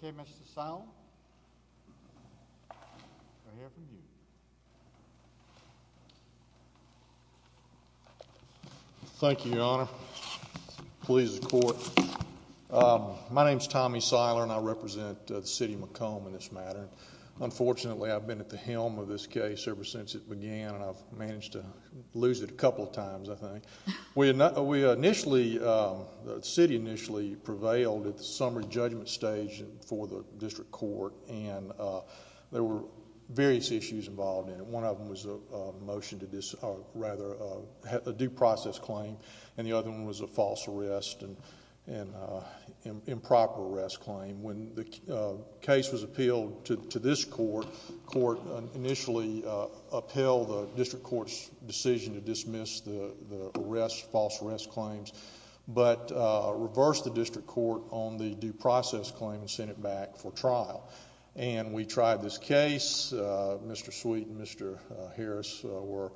Ok, Mr. Seiler, we'll hear from you. Thank you, Your Honor. Please, the court. My name is Tommy Seiler, and I represent the city of McComb in this matter. Unfortunately, I've been at the helm of this case ever since it began, and I've managed to lose it a couple of times, I think. We initially, the city initially prevailed at the summary judgment stage for the district court, and there were various issues involved in it. One of them was a motion to dis, or rather, a due process claim, and the other one was a false arrest and improper arrest claim. When the case was appealed to this court, the court initially upheld the district court's decision to dismiss the arrest, false arrest claims, but reversed the district court on the due process claim and sent it back for trial. We tried this case. Mr. Sweet and Mr. Harris were,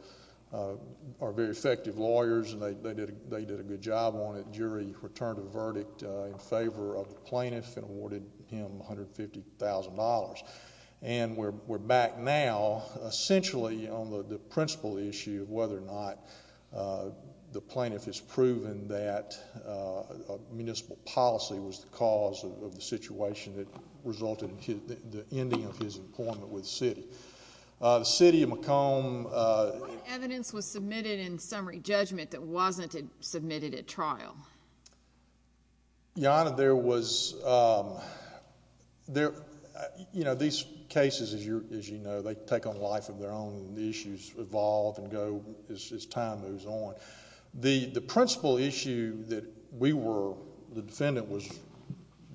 are very effective lawyers, and they did a good job on it. The jury returned a verdict in favor of the plaintiff and awarded him $150,000. And we're back now, essentially, on the principal issue of whether or not the plaintiff has proven that municipal policy was the cause of the situation that resulted in the ending of his employment with the city. The city of Macomb... What evidence was submitted in summary judgment that wasn't submitted at trial? Your Honor, there was... these cases, as you know, they take on life of their own. The issues evolve and go as time moves on. The principal issue that we were, the defendant was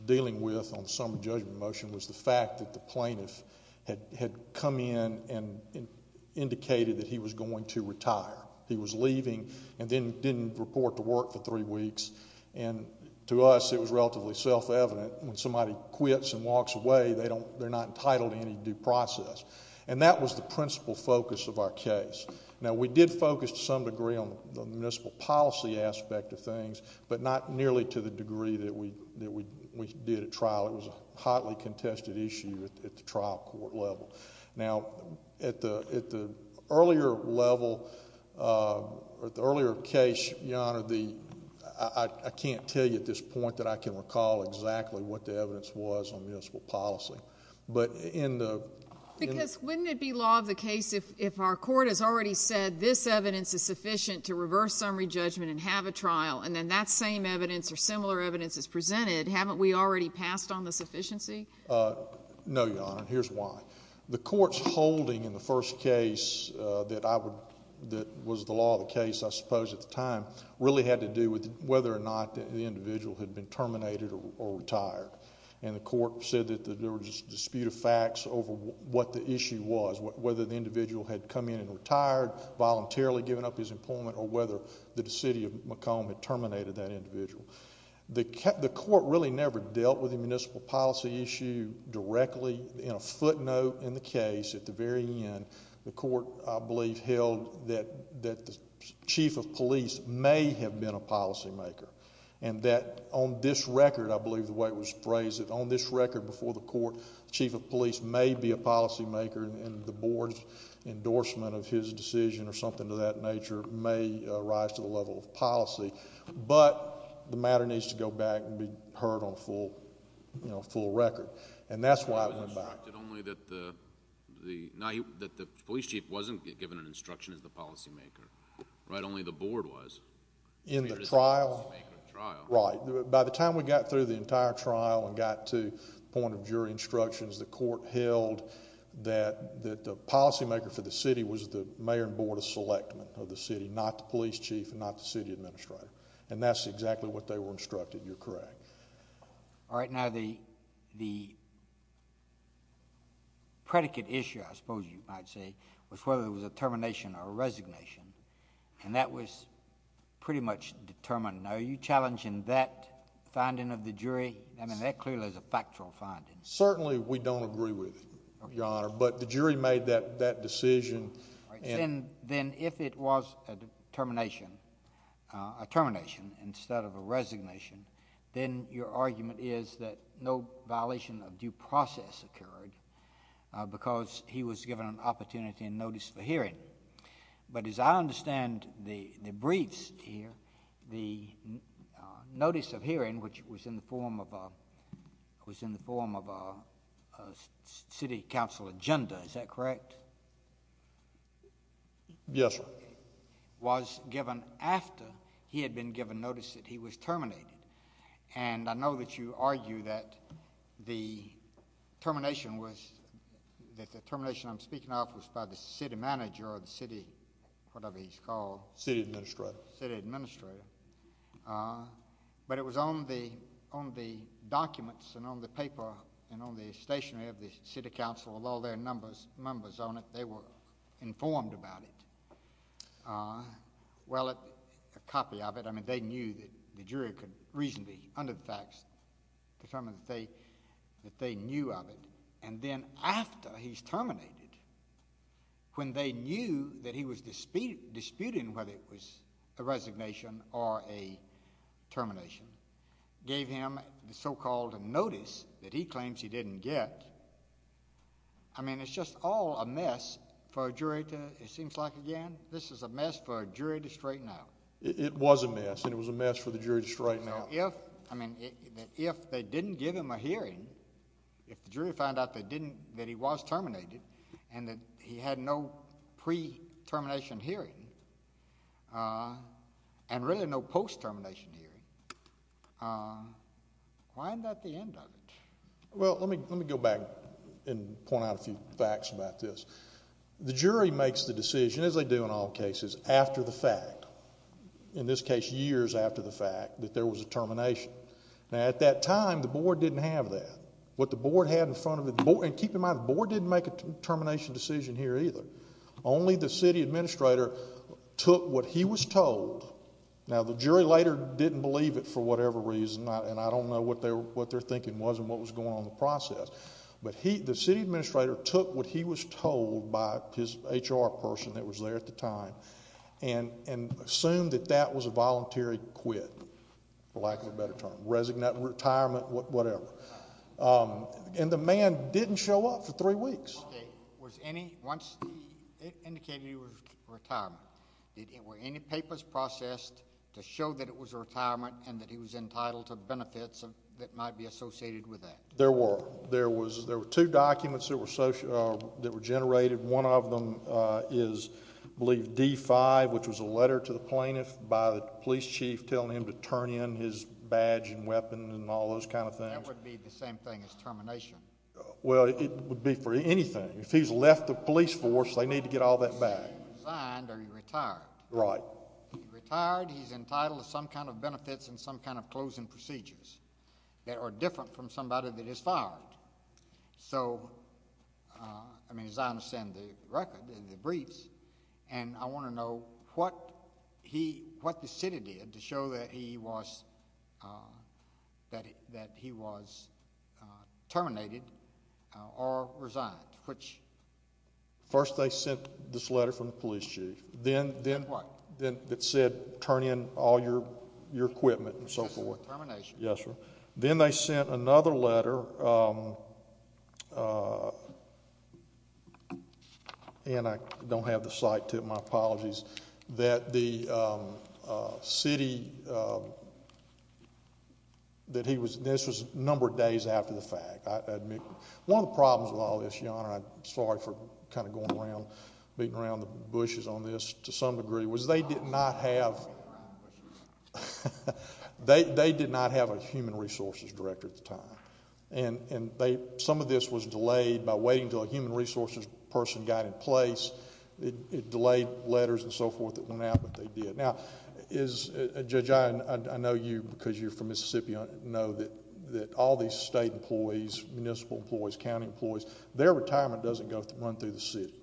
dealing with on the summary judgment motion was the fact that the plaintiff had come in and indicated that he was going to retire. He was leaving and then didn't report to work for three weeks. And to us, it was relatively self-evident, when somebody quits and walks away, they're not entitled to any due process. And that was the principal focus of our case. Now, we did focus, to some degree, on the municipal policy aspect of things, but not nearly to the degree that we did at trial. It was a hotly contested issue at the trial court level. Now, at the earlier level, at the earlier case, Your Honor, I can't tell you at this point that I can recall exactly what the evidence was on municipal policy. But in the... Because wouldn't it be law of the case if our court has already said this evidence is sufficient to reverse summary judgment and have a trial, and then that same evidence or similar evidence is presented, haven't we already passed on the sufficiency? No, Your Honor, and here's why. The court's holding in the first case that I would... that was the law of the case, I suppose, at the time, really had to do with whether or not the individual had been terminated or retired. And the court said that there was a dispute of facts over what the issue was, whether the individual had come in and retired, voluntarily given up his employment, or whether the city of Macomb had terminated that individual. The court really never dealt with the municipal policy issue directly. In a footnote in the case, at the very end, the court, I believe, held that the chief of police may have been a policymaker. And that on this record, I believe the way it was phrased, that on this record before the court, the chief of police may be a policymaker, and the board's endorsement of his decision or something of that nature may rise to the level of policy, but the matter needs to go back and be heard on full record. And that's why... But it was instructed only that the police chief wasn't given an instruction as the policymaker, right? Only the board was. In the trial... He was the policymaker of the trial. Right. By the time we got through the entire trial and got to the point of jury instructions, the court held that the policymaker for the city was the mayor and board of selectment of the city, not the police chief and not the city administrator. And that's exactly what they were instructed. You're correct. All right. Now, the predicate issue, I suppose you might say, was whether it was a termination or resignation, and that was pretty much determined. Now, are you challenging that finding of the jury? I mean, that clearly is a factual finding. Certainly, we don't agree with it, Your Honor, but the jury made that decision... All right. Then, if it was a termination, a termination instead of a resignation, then your argument is that no violation of due process occurred because he was given an opportunity and notice for hearing. But as I understand the briefs here, the notice of hearing, which was in the form of a... was in the form of a city council agenda, is that correct? Yes, sir. Was given after he had been given notice that he was terminated. And I know that you argue that the termination was... that the termination I'm speaking of was by the city manager or the city... whatever he's called. City administrator. City administrator. But it was on the documents and on the paper and on the stationery of the city council with all their numbers on it, they were informed about it. Well, a copy of it, I mean, they knew that the jury could reasonably, under the facts, determine that they knew of it. And then after he's terminated, when they knew that he was disputing whether it was a resignation or a termination, gave him the so-called notice that he claims he didn't get. I mean, it's just all a mess for a jury to... it seems like, again, this is a mess for a jury to straighten out. It was a mess, and it was a mess for the jury to straighten out. Now, if... I mean, if they didn't give him a hearing, if the jury found out they didn't... that he was terminated and that he had no pre-termination hearing and really no post-termination hearing, why isn't that the end of it? Well, let me go back and point out a few facts about this. The jury makes the decision, as they do in all cases, after the fact, in this case years after the fact, that there was a termination. Now, at that time, the board didn't have that. What the board had in front of it... and keep in mind, the board didn't make a termination decision here either. Only the city administrator took what he was told. Now, the jury later didn't believe it for whatever reason, and I don't know what their thinking was and what was going on in the process, but the city administrator took what he was told by his HR person that was there at the time and assumed that that was a voluntary quit, for lack of a better term, resignation, retirement, whatever. And the man didn't show up for three weeks. Okay. Was any... once they indicated he was in retirement, were any papers processed to show that it was a retirement and that he was entitled to benefits that might be associated with that? There were. There were two documents that were generated. One of them is, I believe, D-5, which was a letter to the plaintiff by the police chief telling him to turn in his badge and weapon and all those kind of things. That would be the same thing as termination. Well, it would be for anything. If he's left the police force, they need to get all that back. He's signed or he's retired. Right. If he's retired, he's entitled to some kind of benefits and some kind of closing procedures that are different from somebody that is fired. So, I mean, as I understand the record and the briefs, and I want to know what he... what the city did to show that he was... that he was terminated or resigned, which... First they sent this letter from the police chief. Then... Then what? Then it said, turn in all your equipment and so forth. Termination. Yes, sir. Then they sent another letter, and I don't have the site to it, my apologies, that the city... that he was... this was a number of days after the fact, I admit. One of the problems with all this, John, and I'm sorry for kind of going around, beating around the bushes on this to some degree, was they did not have... They did not have a human resources director at the time, and they... some of this was delayed by waiting until a human resources person got in place. It delayed letters and so forth that went out, but they did. Now, is... Judge, I know you, because you're from Mississippi, know that all these state employees, municipal employees, county employees, their retirement doesn't go... run through the city.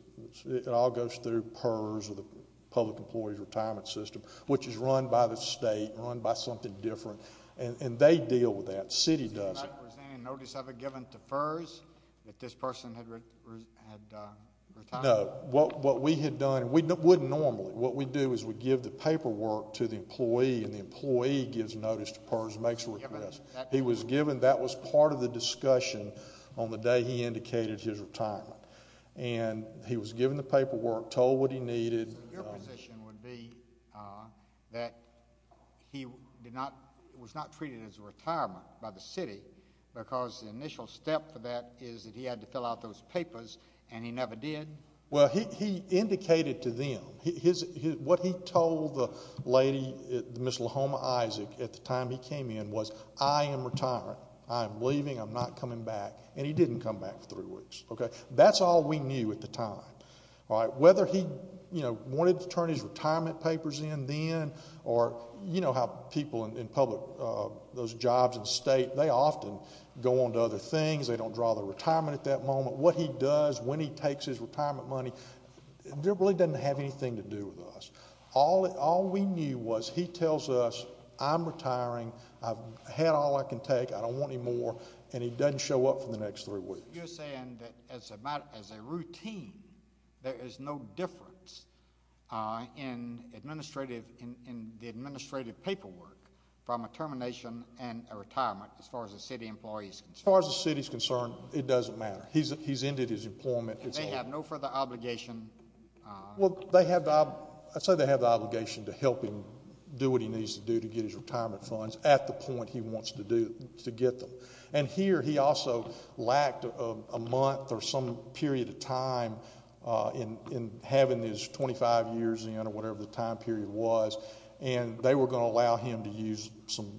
It all goes through PERS or the Public Employees Retirement System, which is run by the state, run by something different. And they deal with that. So you're not presenting a notice ever given to PERS that this person had retired? No. What we had done, and we wouldn't normally, what we do is we give the paperwork to the employee, and the employee gives notice to PERS, makes a request. He was given... that was part of the discussion on the day he indicated his retirement. And he was given the paperwork, told what he needed... He did not... was not treated as a retirement by the city, because the initial step for that is that he had to fill out those papers, and he never did? Well, he indicated to them. What he told the lady, Ms. LaHoma Isaac, at the time he came in was, I am retiring. I am leaving. I'm not coming back. And he didn't come back for three weeks, okay? That's all we knew at the time, all right? Whether he, you know, wanted to turn his retirement papers in then, or you know how people in public... those jobs in the state, they often go on to other things. They don't draw their retirement at that moment. What he does, when he takes his retirement money, it really doesn't have anything to do with us. All we knew was he tells us, I'm retiring, I've had all I can take, I don't want any more, and he doesn't show up for the next three weeks. But you're saying that as a routine, there is no difference in the administrative paperwork from a termination and a retirement, as far as the city employee is concerned? As far as the city is concerned, it doesn't matter. He's ended his employment. And they have no further obligation... Well, they have... I'd say they have the obligation to help him do what he needs to do to get his retirement funds at the point he wants to get them. And here, he also lacked a month or some period of time in having his 25 years in, or whatever the time period was. And they were going to allow him to use some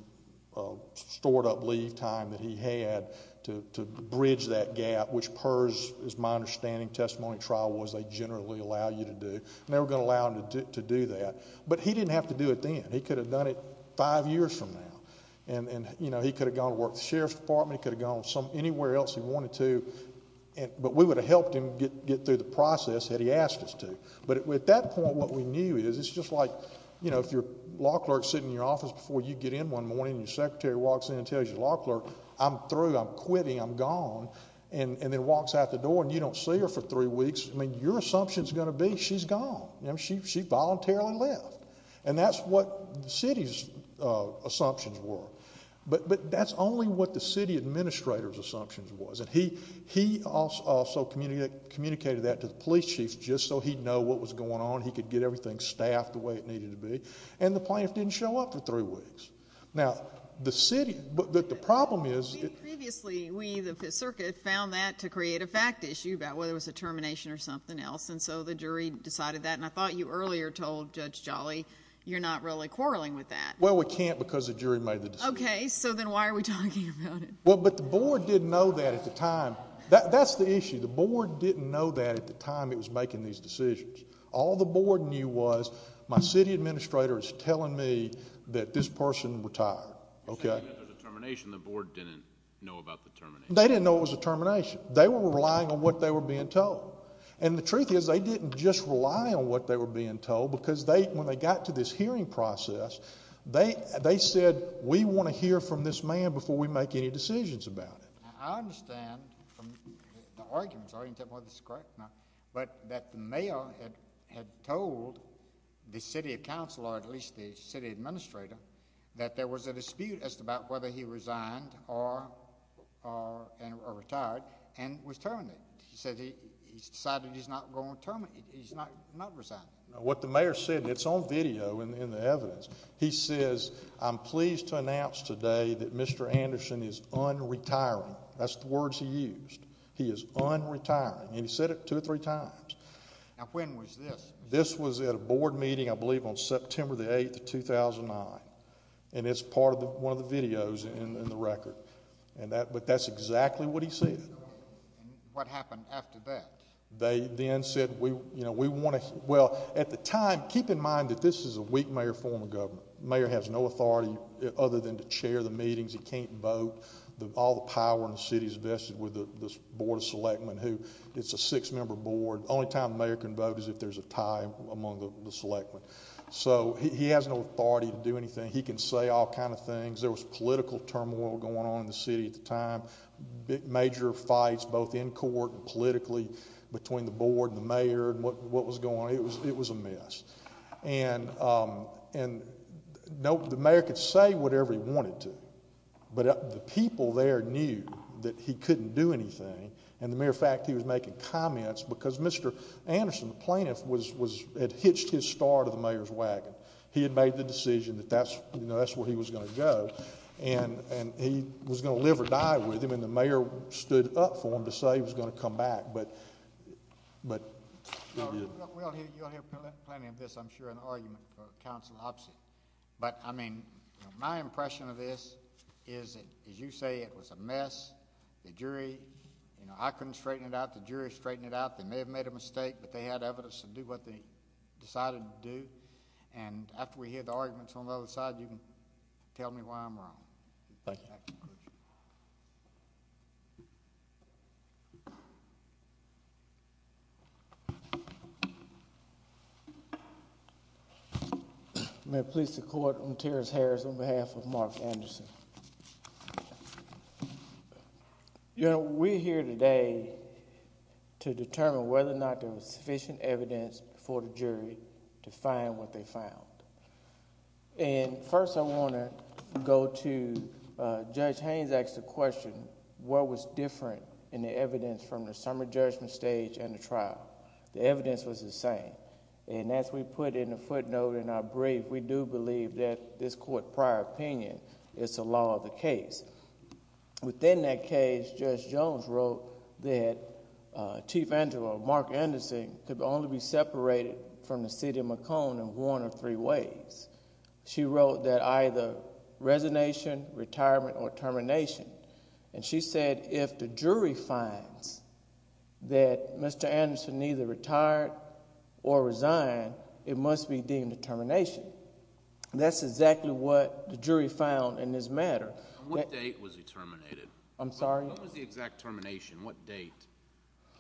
stored up leave time that he had to bridge that gap, which per, as my understanding, testimony trial was, they generally allow you to do. And they were going to allow him to do that. But he didn't have to do it then. He could have done it five years from now. And, you know, he could have gone to work at the Sheriff's Department. He could have gone anywhere else he wanted to. But we would have helped him get through the process had he asked us to. But at that point, what we knew is, it's just like, you know, if your law clerk is sitting in your office before you get in one morning, and your secretary walks in and tells your law clerk, I'm through, I'm quitting, I'm gone, and then walks out the door, and you don't see her for three weeks, I mean, your assumption is going to be, she's gone. She voluntarily left. And that's what the city's assumptions were. But that's only what the city administrator's assumptions was. And he also communicated that to the police chief just so he'd know what was going on. He could get everything staffed the way it needed to be. And the plaintiff didn't show up for three weeks. Now, the city, but the problem is... Previously, we, the circuit, found that to create a fact issue about whether it was a termination or something else. And so the jury decided that. And I thought you earlier told Judge Jolly, you're not really quarreling with that. Well, we can't because the jury made the decision. Okay. So then why are we talking about it? Well, but the board didn't know that at the time. That's the issue. The board didn't know that at the time it was making these decisions. All the board knew was, my city administrator is telling me that this person retired. Okay? You're saying that there's a termination. The board didn't know about the termination. They didn't know it was a termination. They were relying on what they were being told. And the truth is, they didn't just rely on what they were being told because they, when they got to this hearing process, they said, we want to hear from this man before we make any decisions about it. Now, I understand from the arguments, I understand whether this is correct or not, but that the mayor had told the city council, or at least the city administrator, that there was a dispute as to about whether he resigned or retired and was terminated. He said he decided he's not going to resign. What the mayor said, and it's on video in the evidence, he says, I'm pleased to announce today that Mr. Anderson is un-retiring. That's the words he used. He is un-retiring. And he said it two or three times. Now, when was this? This was at a board meeting, I believe, on September the 8th of 2009. And it's part of one of the videos in the record, but that's exactly what he said. And what happened after that? They then said, we want to, well, at the time, keep in mind that this is a weak mayor form of government. The mayor has no authority other than to chair the meetings, he can't vote. All the power in the city is vested with this board of selectmen who, it's a six-member board, the only time the mayor can vote is if there's a tie among the selectmen. So he has no authority to do anything. He can say all kinds of things. There was political turmoil going on in the city at the time. Major fights, both in court and politically, between the board and the mayor and what was going on. It was a mess. And the mayor could say whatever he wanted to, but the people there knew that he couldn't do anything. And the mere fact he was making comments, because Mr. Anderson, the plaintiff, had hitched his start of the mayor's wagon. He had made the decision that that's where he was going to go. And he was going to live or die with him, and the mayor stood up for him to say he was going to come back, but he didn't. You'll hear plenty of this, I'm sure, in the argument for counsel, obviously. But I mean, my impression of this is that, as you say, it was a mess, the jury, I couldn't straighten it out, the jury straightened it out, they may have made a mistake, but they had evidence to do what they decided to do. And after we hear the arguments on the other side, you can tell me why I'm wrong. Thank you. May it please the court, I'm Terrace Harris on behalf of Mark Anderson. You know, we're here today to determine whether or not there was sufficient evidence for the jury to determine what they found. And first I want to go to, Judge Haynes asked the question, what was different in the evidence from the summer judgment stage and the trial? The evidence was the same. And as we put in the footnote in our brief, we do believe that this court prior opinion is the law of the case. Within that case, Judge Jones wrote that Chief Angelo, Mark Anderson, could only be separated from the city of Macomb in one of three ways. She wrote that either resignation, retirement, or termination. And she said if the jury finds that Mr. Anderson neither retired or resigned, it must be deemed a termination. That's exactly what the jury found in this matter. What date was he terminated? I'm sorry? What was the exact termination? What date?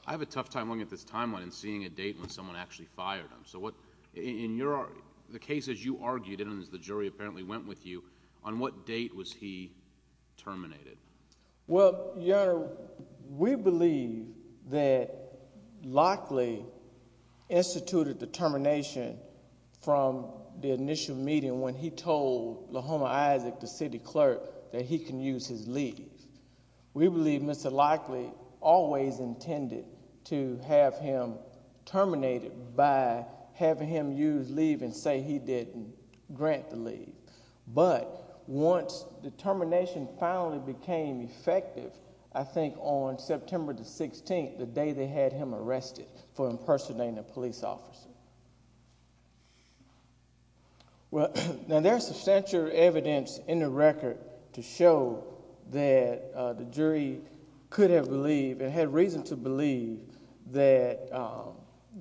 I have a tough time looking at this timeline and seeing a date when someone actually fired him. So what, in your, the case as you argued it and as the jury apparently went with you, on what date was he terminated? Well, Your Honor, we believe that Lockley instituted the termination from the initial meeting when he told LaHoma Isaac, the city clerk, that he can use his leave. We believe Mr. Lockley always intended to have him terminated by having him use leave and say he didn't grant the leave. But once the termination finally became effective, I think on September the 16th, the day they had him arrested for impersonating a police officer. Well, now there's substantial evidence in the record to show that the jury could have believed and had reason to believe that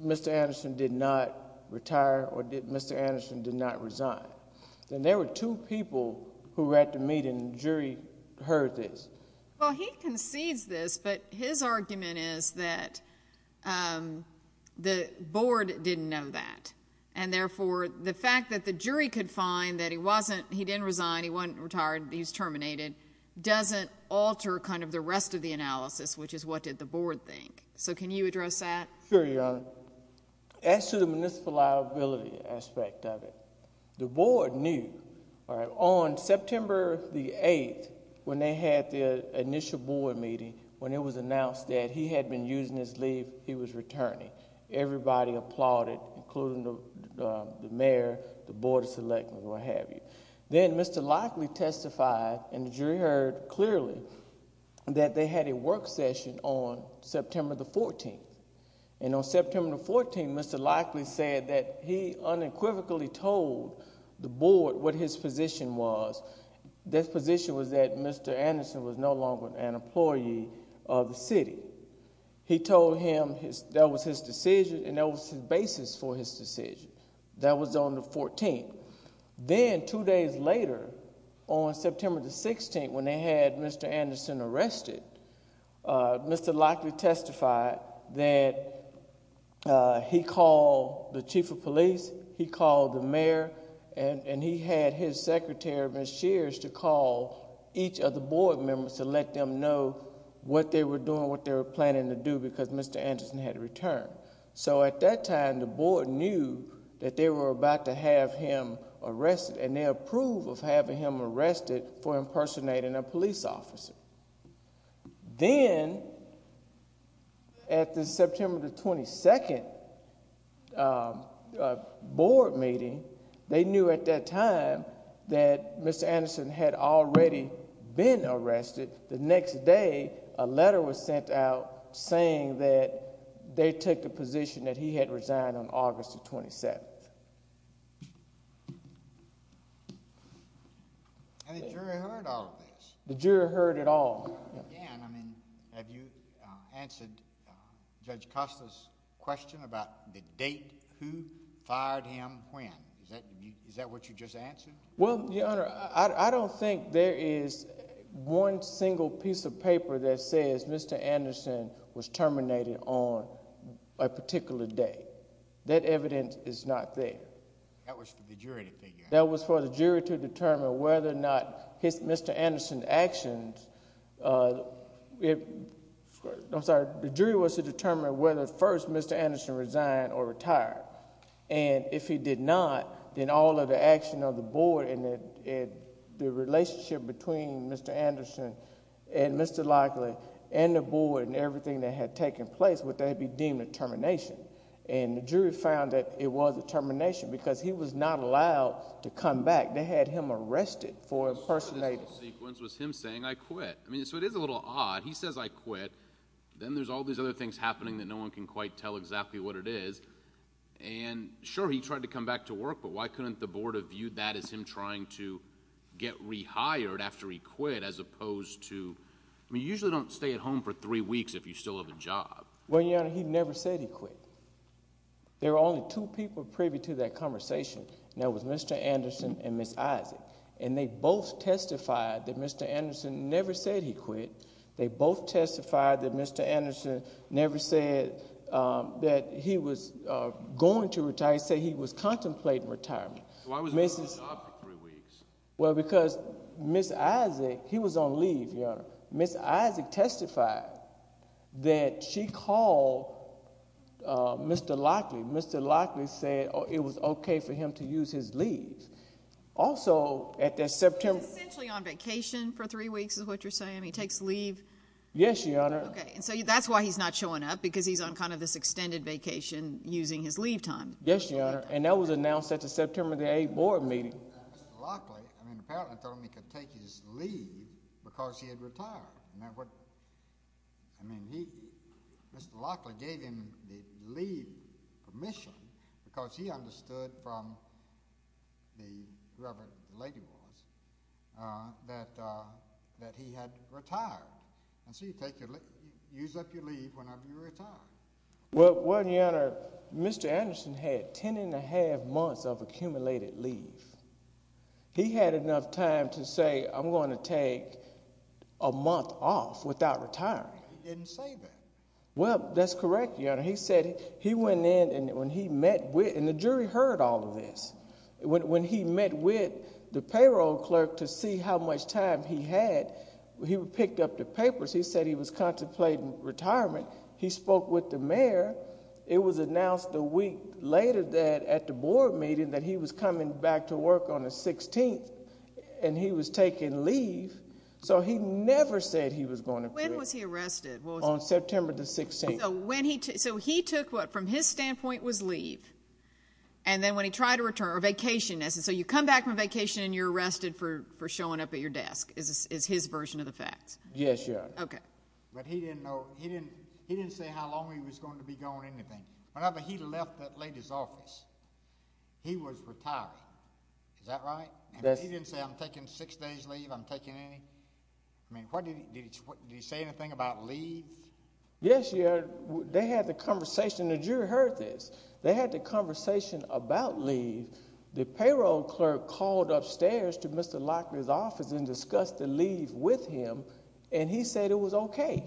Mr. Anderson did not retire or that Mr. Anderson did not resign. Then there were two people who were at the meeting and the jury heard this. Well, he concedes this, but his argument is that the board didn't know that. And therefore, the fact that the jury could find that he wasn't, he didn't resign, he wasn't retired, he was terminated, doesn't alter kind of the rest of the analysis, which is what did the board think. So can you address that? Sure, Your Honor. As to the municipal liability aspect of it, the board knew on September the 8th, when they had the initial board meeting, when it was announced that he had been using his leave, he was returning. Everybody applauded, including the mayor, the board of selectors, what have you. Then Mr. Lockley testified and the jury heard clearly that they had a work session on September the 14th. And on September the 14th, Mr. Lockley said that he unequivocally told the board what his position was. His position was that Mr. Anderson was no longer an employee of the city. He told him that was his decision and that was his basis for his decision. That was on the 14th. Then, two days later, on September the 16th, when they had Mr. Anderson arrested, Mr. Lockley testified that he called the chief of police, he called the mayor, and he had his secretary, Ms. Shears, to call each of the board members to let them know what they were doing, what they were planning to do, because Mr. Anderson had returned. So at that time, the board knew that they were about to have him arrested and they approved of having him arrested for impersonating a police officer. Then, at the September the 22nd board meeting, they knew at that time that Mr. Anderson had already been arrested. The next day, a letter was sent out saying that they took the position that he had resigned on August the 27th. And the jury heard all of this? The jury heard it all. And, I mean, have you answered Judge Costa's question about the date, who fired him, when? Is that what you just answered? Well, Your Honor, I don't think there is one single piece of paper that says Mr. Anderson was terminated on a particular day. That evidence is not there. That was for the jury to figure out. That was for the jury to determine whether or not Mr. Anderson's actions I'm sorry, the jury was to determine whether first Mr. Anderson resigned or retired. And if he did not, then all of the action of the board and the relationship between Mr. Anderson and Mr. Lockley and the board and everything that had taken place, would then be deemed a termination. And the jury found that it was a termination because he was not allowed to come back. They had him arrested for impersonating. The sequence was him saying, I quit. I mean, so it is a little odd. He says, I quit. Then there's all these other things happening that no one can quite tell exactly what it is. And, sure, he tried to come back to work, but why couldn't the board have viewed that as him trying to get rehired after he quit, as opposed to, I mean, you usually don't stay at home for three weeks if you still have a job. Well, Your Honor, he never said he quit. There were only two people privy to that conversation, and that was Mr. Anderson and Ms. Isaac. And they both testified that Mr. Anderson never said he quit. They both testified that Mr. Anderson never said that he was going to retire. He said he was contemplating retirement. Why was he on the job for three weeks? Well, because Ms. Isaac, he was on leave, Your Honor. Ms. Isaac testified that she called Mr. Lockley. Mr. Lockley said it was okay for him to use his leave. Also, at that September... He was essentially on vacation for three weeks, is what you're saying? I mean, he takes leave? Yes, Your Honor. Okay, and so that's why he's not showing up, because he's on kind of this extended vacation using his leave time. Yes, Your Honor, and that was announced at the September 8th board meeting. Mr. Lockley, I mean, apparently told him he could take his leave because he had retired. Now, what... I mean, he... Mr. Lockley gave him the leave permission because he understood from the... whoever the lady was, that he had retired. And so you use up your leave whenever you retire. Well, Your Honor, Mr. Anderson had 10 1⁄2 months of accumulated leave. He had enough time to say, I'm going to take a month off without retiring. He didn't say that. Well, that's correct, Your Honor. He said... He went in, and when he met with... And the jury heard all of this. When he met with the payroll clerk to see how much time he had, he picked up the papers. He said he was contemplating retirement. He spoke with the mayor. It was announced a week later that at the board meeting that he was coming back to work on the 16th, and he was taking leave. So he never said he was going to quit. When was he arrested? On September the 16th. So when he... So he took what, from his standpoint, was leave. And then when he tried to return, or vacation, so you come back from vacation and you're arrested for showing up at your desk, is his version of the facts. Yes, Your Honor. Okay. But he didn't know... He didn't say how long he was going to be gone or anything. Whenever he left that lady's office, he was retiring. Is that right? Yes. And he didn't say, I'm taking six days leave, I'm taking any... I mean, did he say anything about leave? Yes, Your Honor. They had the conversation. The jury heard this. They had the conversation about leave. The payroll clerk called upstairs to Mr. Locklear's office and discussed the leave with him, and he said it was okay.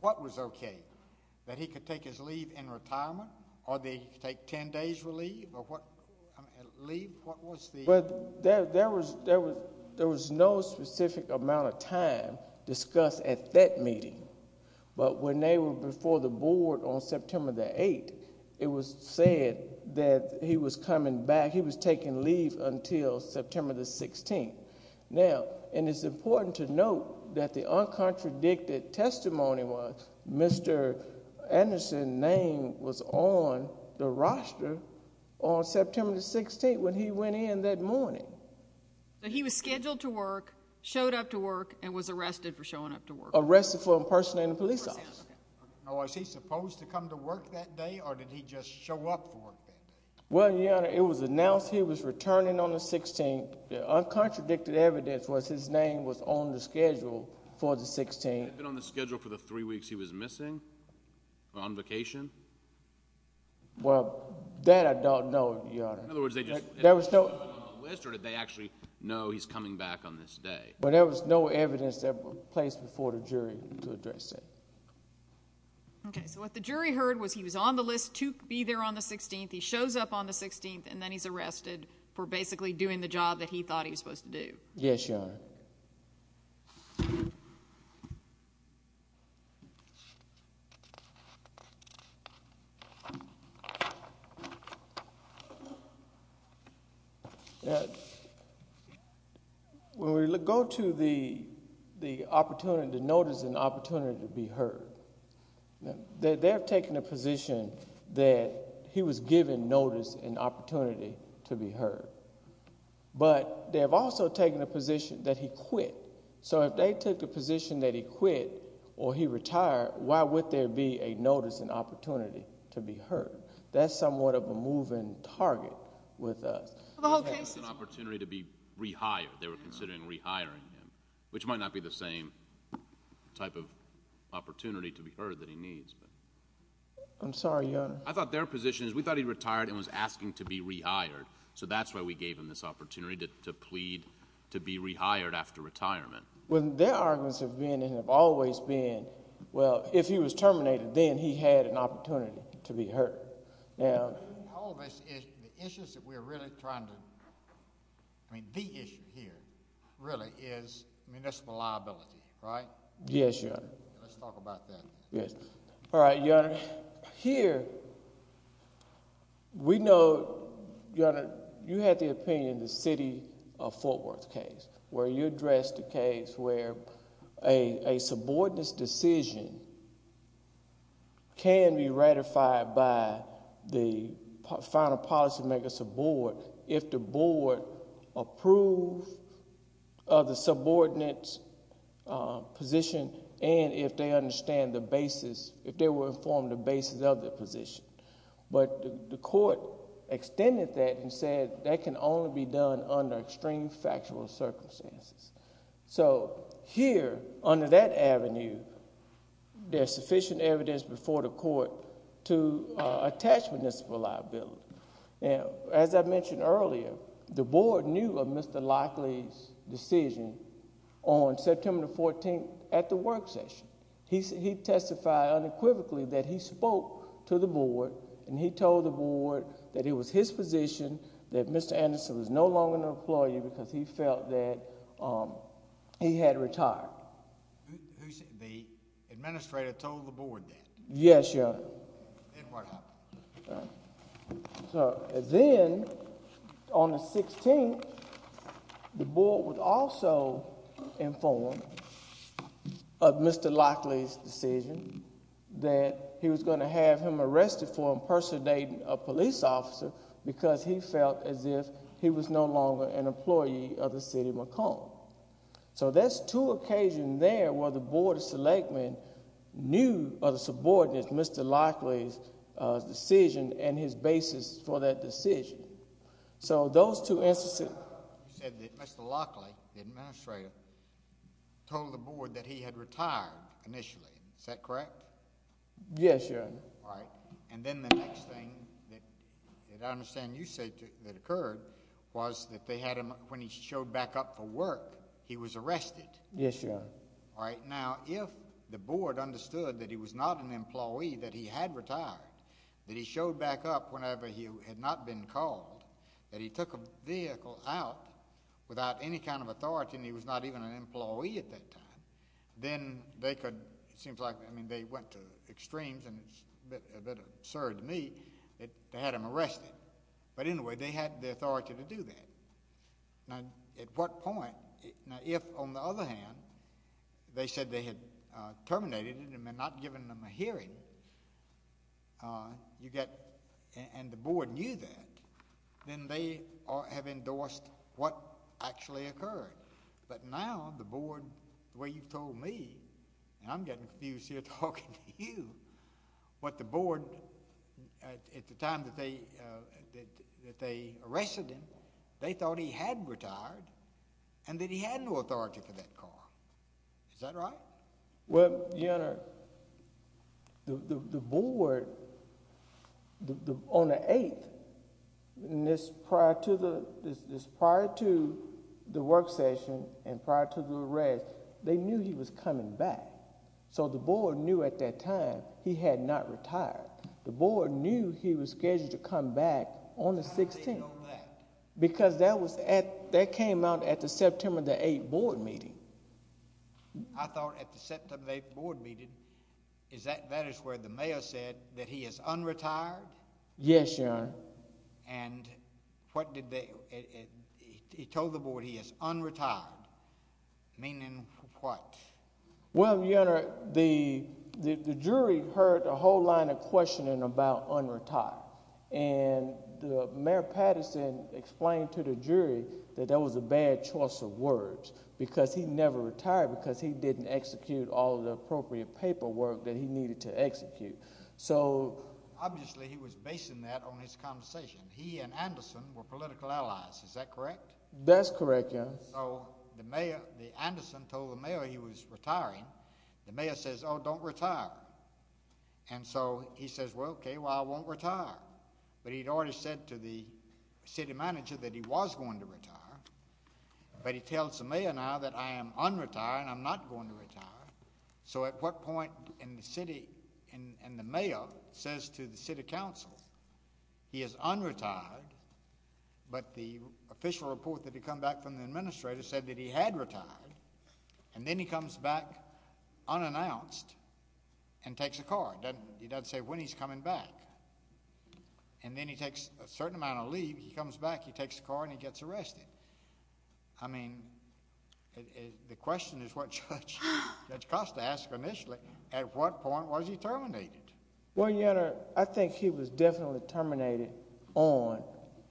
What was okay? That he could take his leave in retirement? Or that he could take 10 days' leave? Or what... Leave? What was the... There was no specific amount of time discussed at that meeting. But when they were before the board on September the 8th, it was said that he was coming back. He was taking leave until September the 16th. Now, and it's important to note that the uncontradicted testimony was Mr. Anderson's name was on the roster on September the 16th when he went in that morning. So he was scheduled to work, showed up to work, and was arrested for showing up to work? Arrested for impersonating a police officer. Now, was he supposed to come to work that day? Or did he just show up for work that day? Well, Your Honor, it was announced he was returning on the 16th. The uncontradicted evidence was his name was on the schedule for the 16th. Had he been on the schedule for the three weeks he was missing? On vacation? Well, that I don't know, Your Honor. In other words, they just showed up on the list or did they actually know he's coming back on this day? Well, there was no evidence that was placed before the jury to address that. Okay, so what the jury heard was he was on the list to be there on the 16th, he shows up on the 16th, and then he's arrested for basically doing the job that he thought he was supposed to do. Yes, Your Honor. Yes, Your Honor. When we go to the opportunity to notice and opportunity to be heard, they have taken a position that he was given notice and opportunity to be heard, but they have also taken a position that he quit. So if they took the position that he quit or he retired, why would there be a notice and opportunity to be heard? That's somewhat of a moving target with us. Well, the whole case is an opportunity to be rehired. They were considering rehiring him, which might not be the same type of opportunity to be heard that he needs. I'm sorry, Your Honor. I thought their position is we thought he retired and was asking to be rehired, so that's why we gave him this opportunity to plead to be rehired after retirement. Well, their arguments have been and have always been, well, if he was terminated, then he had an opportunity to be heard. All of this is the issues that we're really trying to, I mean, the issue here really is municipal liability, right? Yes, Your Honor. Let's talk about that. Yes. All right, Your Honor. Here, we know, Your Honor, you had the opinion in the city of Fort Worth case where you addressed a case where a subordinate's decision can be ratified by the final policymaker's board if the board approved of the subordinate's position and if they understand the basis, if they were informed of the basis of their position. But the court extended that and said that can only be done under extreme factual circumstances. So, here, under that avenue, there's sufficient evidence before the court to attach municipal liability. As I mentioned earlier, the board knew of Mr. Lockley's decision on September 14th at the work session. He testified unequivocally that he spoke to the board and he told the board that it was his position that Mr. Anderson was no longer an employee because he felt that he had retired. The administrator told the board that? Yes, Your Honor. And what happened? Then, on the 16th, the board was also informed of Mr. Lockley's decision that he was going to have him arrested for impersonating a police officer because he felt as if he was no longer an employee of the city of Macomb. So, there's two occasions there where the board of selectmen knew of the subordinates Mr. Lockley's decision and his basis for that decision. So, those two instances... Mr. Lockley, the administrator, told the board that he had retired initially. Is that correct? Yes, Your Honor. And then the next thing that I understand you say that occurred was that they had him, when he showed back up for work, he was arrested. Yes, Your Honor. Alright, now, if the board understood that he was not an employee that he had retired, that he showed back up whenever he had not been called, that he took a vehicle out without any kind of authority and he was not even an employee at that time, then they could, it seems like, I mean, they went to extremes and it's they had him arrested. But anyway, they had the authority to do that. Now, at what point, now, if, on the other hand, they said they had terminated him and not given him a hearing, you get, and the board knew that, then they have endorsed what actually occurred. But now, the board, the way you've told me, and I'm getting confused here talking to you, what the board at the time that they arrested him, they thought he had retired and that he had no authority for that car. Is that right? Well, Your Honor, the board, on the 8th, and this prior to the work session and prior to the arrest, they knew he was coming back. So the board knew at that time he had not retired. The board knew he was scheduled to come back on the 16th. How did they know that? Because that was at, that came out at the September the 8th board meeting. I thought at the September the 8th board meeting, is that, that is where the mayor said that he is unretired? Yes, Your Honor. And what did they, he told the board he is unretired. Meaning what? Well, Your Honor, the jury heard a whole line of questioning about unretired. And Mayor Patterson explained to the jury that that was a bad choice of words because he never retired because he didn't execute all the appropriate paperwork that he needed to execute. So, obviously he was basing that on his conversation. He and Anderson were political allies. Is that correct? That's correct, Your Honor. So the mayor, the Anderson told the mayor he was retiring. The mayor says, oh, don't retire. And so he says, well, okay, well, I won't retire. But he'd already said to the city manager that he was going to retire. But he tells the mayor now that I am unretired and I'm not going to retire. So at what point in the city, in the he is unretired but the official report that had come back from the And then he comes back unannounced and takes a car. He doesn't say when he's coming back. And then he takes a certain amount of leave. He comes back, he takes a car, and he gets arrested. I mean, the question is what Judge Costa asked initially. At what point was he terminated? Well, Your Honor, I think he was definitely terminated on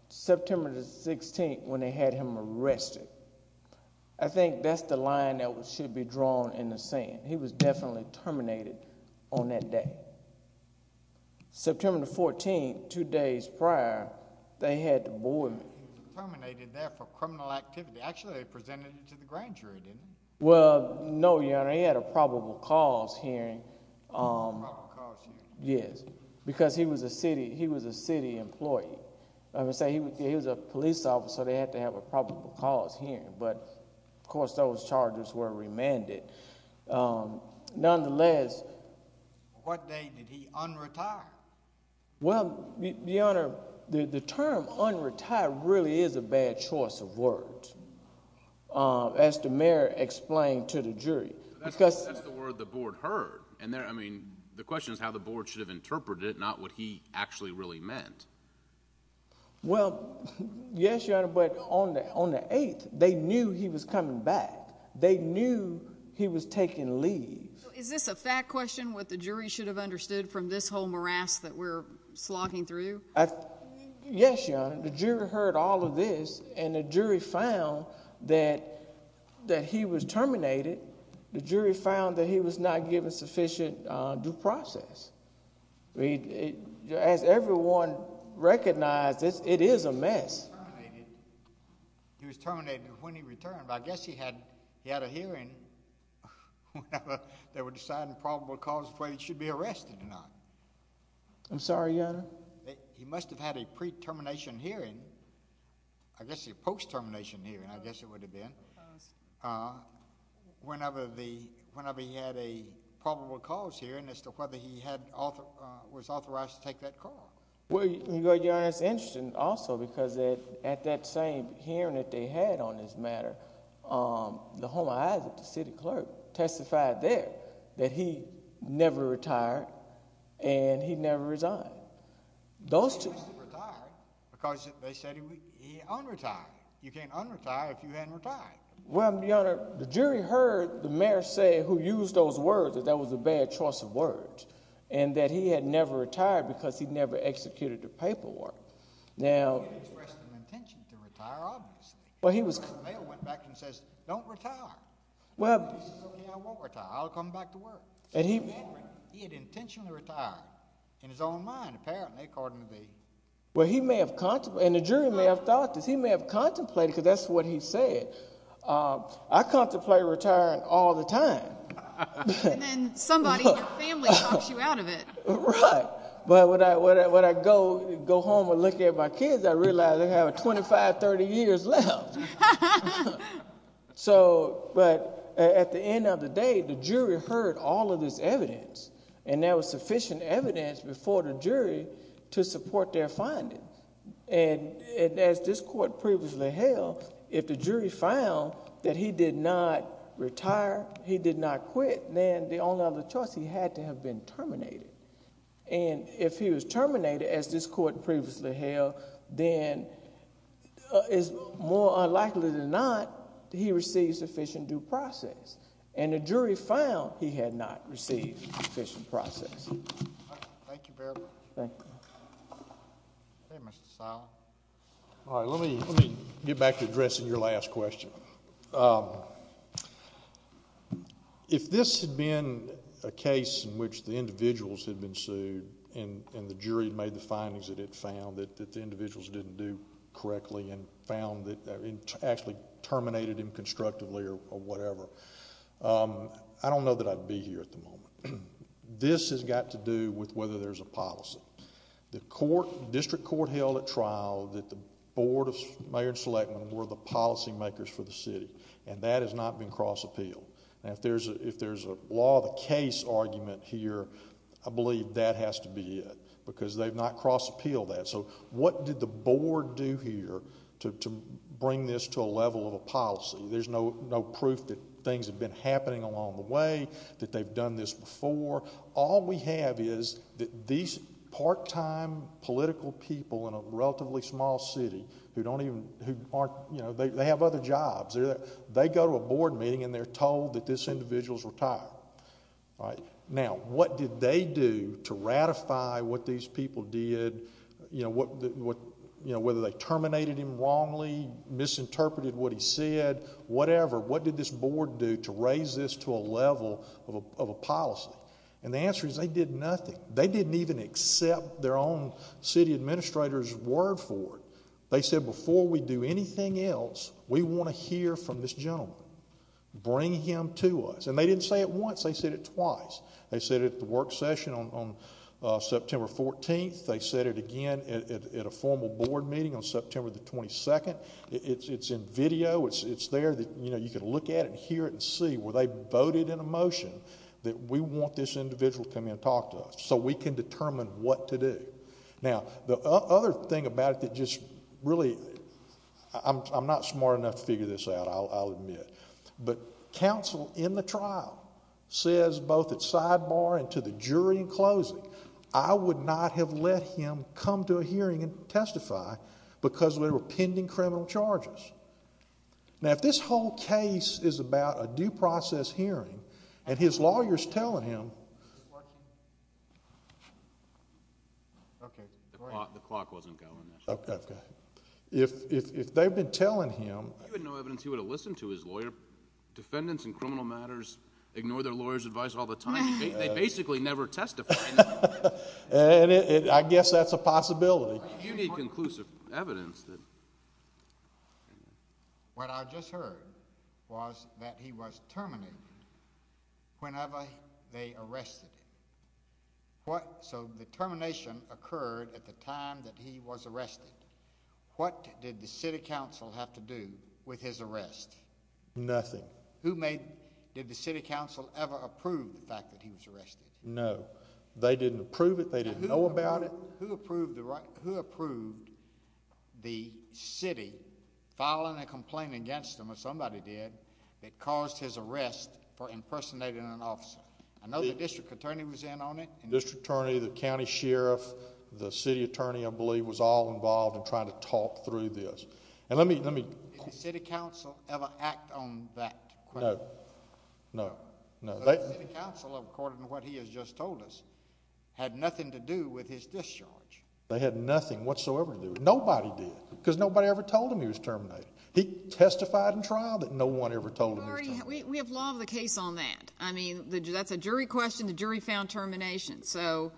September the 16th when they had him arrested. I think that's the line that should be drawn in the Senate. He was definitely terminated on that day. September the 14th, two days prior, they had to board him. He was terminated there for criminal activity. Actually, they presented it to the grand jury, didn't they? Well, no, Your Honor, he had a probable cause hearing. Yes, because he was a city employee. He was a police officer. They had to have a probable cause hearing. But, of course, those charges were remanded. Nonetheless, What day did he un-retire? Well, Your Honor, the term un-retire really is a bad choice of words. As the mayor explained to the jury. That's the word the board heard. I mean, the question is how the board should have interpreted it, not what he actually really meant. Well, yes, Your Honor, but on the 8th, they knew he was coming back. They knew he was taking leave. Is this a fact question, what the jury should have understood from this whole morass that we're slogging through? Yes, Your Honor. The jury heard all of this and the jury found that he was terminated. The jury found that he was not given sufficient due process. As everyone recognized, it is a mess. He was terminated when he returned. I guess he had a hearing whenever they were deciding probable cause for whether he should be arrested or not. I'm sorry, Your Honor? He must have had a pre-termination hearing. I guess a post-termination hearing. I guess it would have been. Whenever he had a probable cause hearing as to whether he was authorized to take that call. Well, Your Honor, it's interesting also because at that same hearing that they had on this matter, the home of Isaac, the city clerk, testified there that he never retired and he never resigned. Those two... Because they said he unretired. You can't unretire if you haven't retired. Well, Your Honor, the jury heard the mayor say who was a bad choice of words and that he had never retired because he never executed the paperwork. Now... He didn't express the intention to retire, obviously. The mayor went back and says, don't retire. He says, okay, I won't retire. I'll come back to work. He had intentionally retired in his own mind apparently, according to me. Well, he may have contemplated and the jury may have thought this. He may have contemplated because that's what he said. I contemplate retiring all the time. And then somebody in your family talks you out of it. Right. But when I go home and look at my kids, I realize I have 25-30 years left. So, but at the end of the day, the jury heard all of this evidence and there was sufficient evidence before the jury to support their findings. And as this court previously held, if the jury found that he did not retire, he did not quit, then the only other choice he had to have been terminated. And if he was terminated as this court previously held, then it's more unlikely than not he received sufficient due process. And the jury found he had not received sufficient process. Thank you. Hey, Mr. Silent. Alright, let me get back to addressing your last question. If this had been a case in which the individuals had been sued and the jury made the findings that it found that the individuals didn't do correctly and found that it actually terminated him constructively or whatever, I don't know that I'd be here at the moment. This has got to do with whether there's a policy. The court, district court held at trial that the board of mayor and selectmen were the policy makers for the city. And that has not been cross appealed. And if there's a law of the case argument here, I believe that has to be it. Because they've not cross appealed that. So what did the board do here to bring this to a level of a policy? There's no proof that things have been happening along the way, that they've done this before. All we have is that these part-time political people in a relatively small city who have other jobs. They go to a board meeting and they're told that this individual's retired. Now, what did they do to ratify what these people did? Whether they terminated him wrongly, misinterpreted what he said, whatever, what did this board do to raise this to a level of a policy? And the answer is they did nothing. They didn't even accept their own city administrators' word for it. They said, before we do anything else, we want to hear from this gentleman. Bring him to us. And they didn't say it once. They said it twice. They said it at the work session on September 14th. They said it again at a formal board meeting on September 22nd. It's in video. It's there. You can look at it, hear it, and see where they voted in a motion that we want this individual to come in and talk to us so we can determine what to do. Now, the other thing about it that just really I'm not smart enough to figure this out, I'll admit. But counsel in the trial says both at sidebar and to the jury in closing, I would not have let him come to a hearing and testify because there were pending criminal charges. Now, if this whole case is about a due process hearing and his lawyer's telling him to testify, then I would I'm not sure that's going to happen. Okay. The clock wasn't going. Okay. If they've been telling him no evidence, he would have listened to his lawyer. Defendants in criminal matters ignore their lawyer's advice all the time. They basically never testify. I guess that's a possibility. You need conclusive evidence. What I just heard was that he was terminated whenever they arrested him. So the termination occurred at the time that he was arrested. What did the city council have to do with his arrest? Nothing. Did the city council ever approve the fact that he was arrested? No. They didn't approve it. They didn't know about it. Who approved the city filing a complaint against him, or somebody did, that caused his arrest for impersonating an officer? I know the district attorney was in on it. District attorney, the county sheriff, the city attorney, I believe, was all involved in trying to talk through this. Did the city council ever act on that? No. The city council, according to what he has just told us, had nothing to do with his discharge. They had nothing whatsoever to do with it. Nobody did. Because nobody ever told him he was terminated. He testified in trial that no one ever told him he was terminated. We have law of the case on that. That's a jury question. The jury found termination. So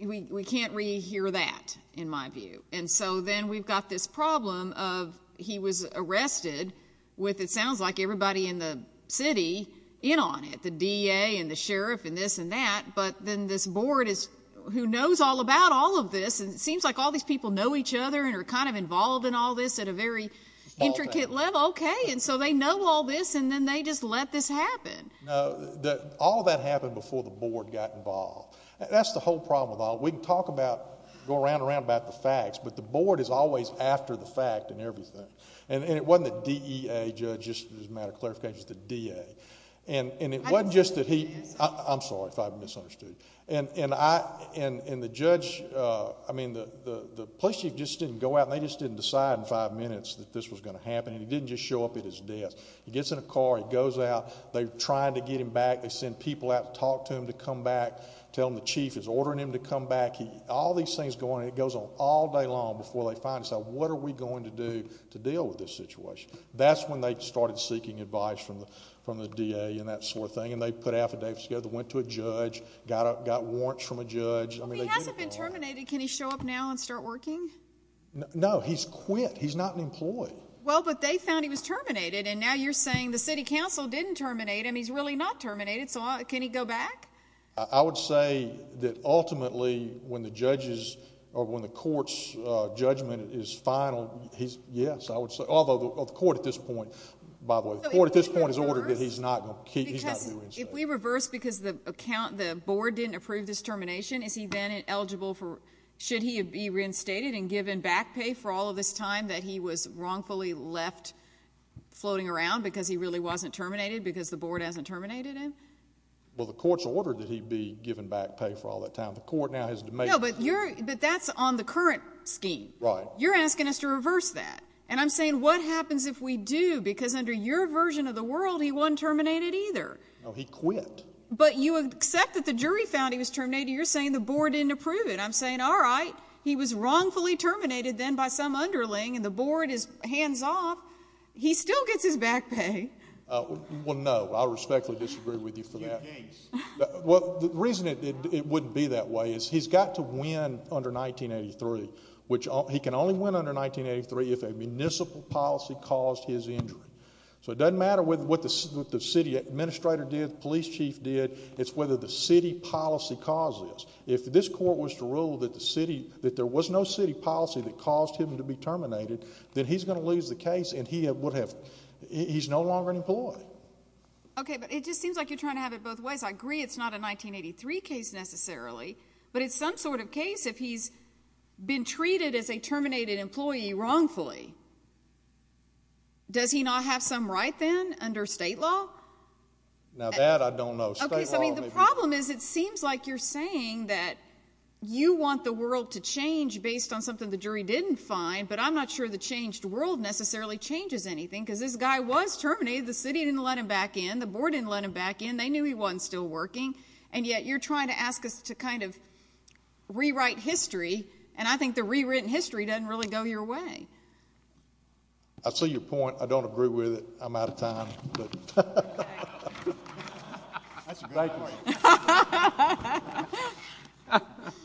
we can't re-hear that, in my view. And so then we've got this problem of he was arrested with, it sounds like, everybody in the city in on it. The DA and the sheriff and this and that. But then this board who knows all about all of this and it seems like all these people know each other and are kind of involved in all this at a very intricate level. Okay. And so they know all this and then they just let this happen. All of that happened before the board got involved. That's the whole problem with all of it. We can talk about, go around and around about the facts but the board is always after the fact in everything. And it wasn't the DEA judge, just as a matter of clarification, it was the DA. I'm sorry if I've misunderstood. And the judge, I mean the police chief just didn't go out and they just didn't decide in five minutes that this was going to happen and he didn't just show up at his desk. He gets in a car, he goes out, they're trying to get him back, they send people out to talk to him to come back, tell him the chief is ordering him to come back. All these things go on and it goes on all day long before they find out what are we going to do to deal with this situation. That's when they started seeking advice from the DA and that sort of thing and they put affidavits together, went to a judge, got warrants from a judge. If he hasn't been terminated, can he show up now and start working? No, he's quit. He's not an employee. Well, but they found he was terminated and now you're saying the city council didn't terminate him, he's really not terminated, so can he go back? I would say that ultimately when the judges or when the court's judgment is final, yes. Although the court at this point by the way, the court at this point has ordered that he's not going to be reinstated. If we reverse because the board didn't approve this termination, is he then eligible for, should he be reinstated and given back pay for all of this time that he was wrongfully left floating around because he really wasn't terminated because the board hasn't terminated him? Well, the court's ordered that he be given back pay for all that time. No, but that's on the current scheme. You're asking us to reverse that and I'm saying what happens if we do because under your version of the world, he wasn't terminated either. No, he quit. But you accept that the jury found he was terminated, you're saying the board didn't approve it. I'm saying, alright, he was wrongfully terminated then by some underling and the board is hands off. He still gets his back pay. Well, no. I respectfully disagree with you for that. Well, the reason it wouldn't be that way is he's got to win under 1983 which he can only win under 1983 if a municipal policy caused his injury. So it doesn't matter what the city administrator did, the police chief did, it's whether the city policy caused this. If this court was to rule that the city that there was no city policy that caused him to be terminated, then he's gonna lose the case and he would have he's no longer an employee. Okay, but it just seems like you're trying to have it both ways. I agree it's not a 1983 case necessarily, but it's some sort of case if he's been treated as a terminated employee wrongfully. Does he not have some right then under state law? Now that I don't know. The problem is it seems like you're saying that you want the world to change based on something the jury didn't find, but I'm not sure the changed world necessarily changes anything because this guy was terminated, the city didn't let him back in, the board didn't let him back in, they knew he wasn't still working and yet you're trying to ask us to kind of rewrite history and I think the rewritten history doesn't really go your way. I see your point. I don't agree with it. I'm out of time. That's a great point.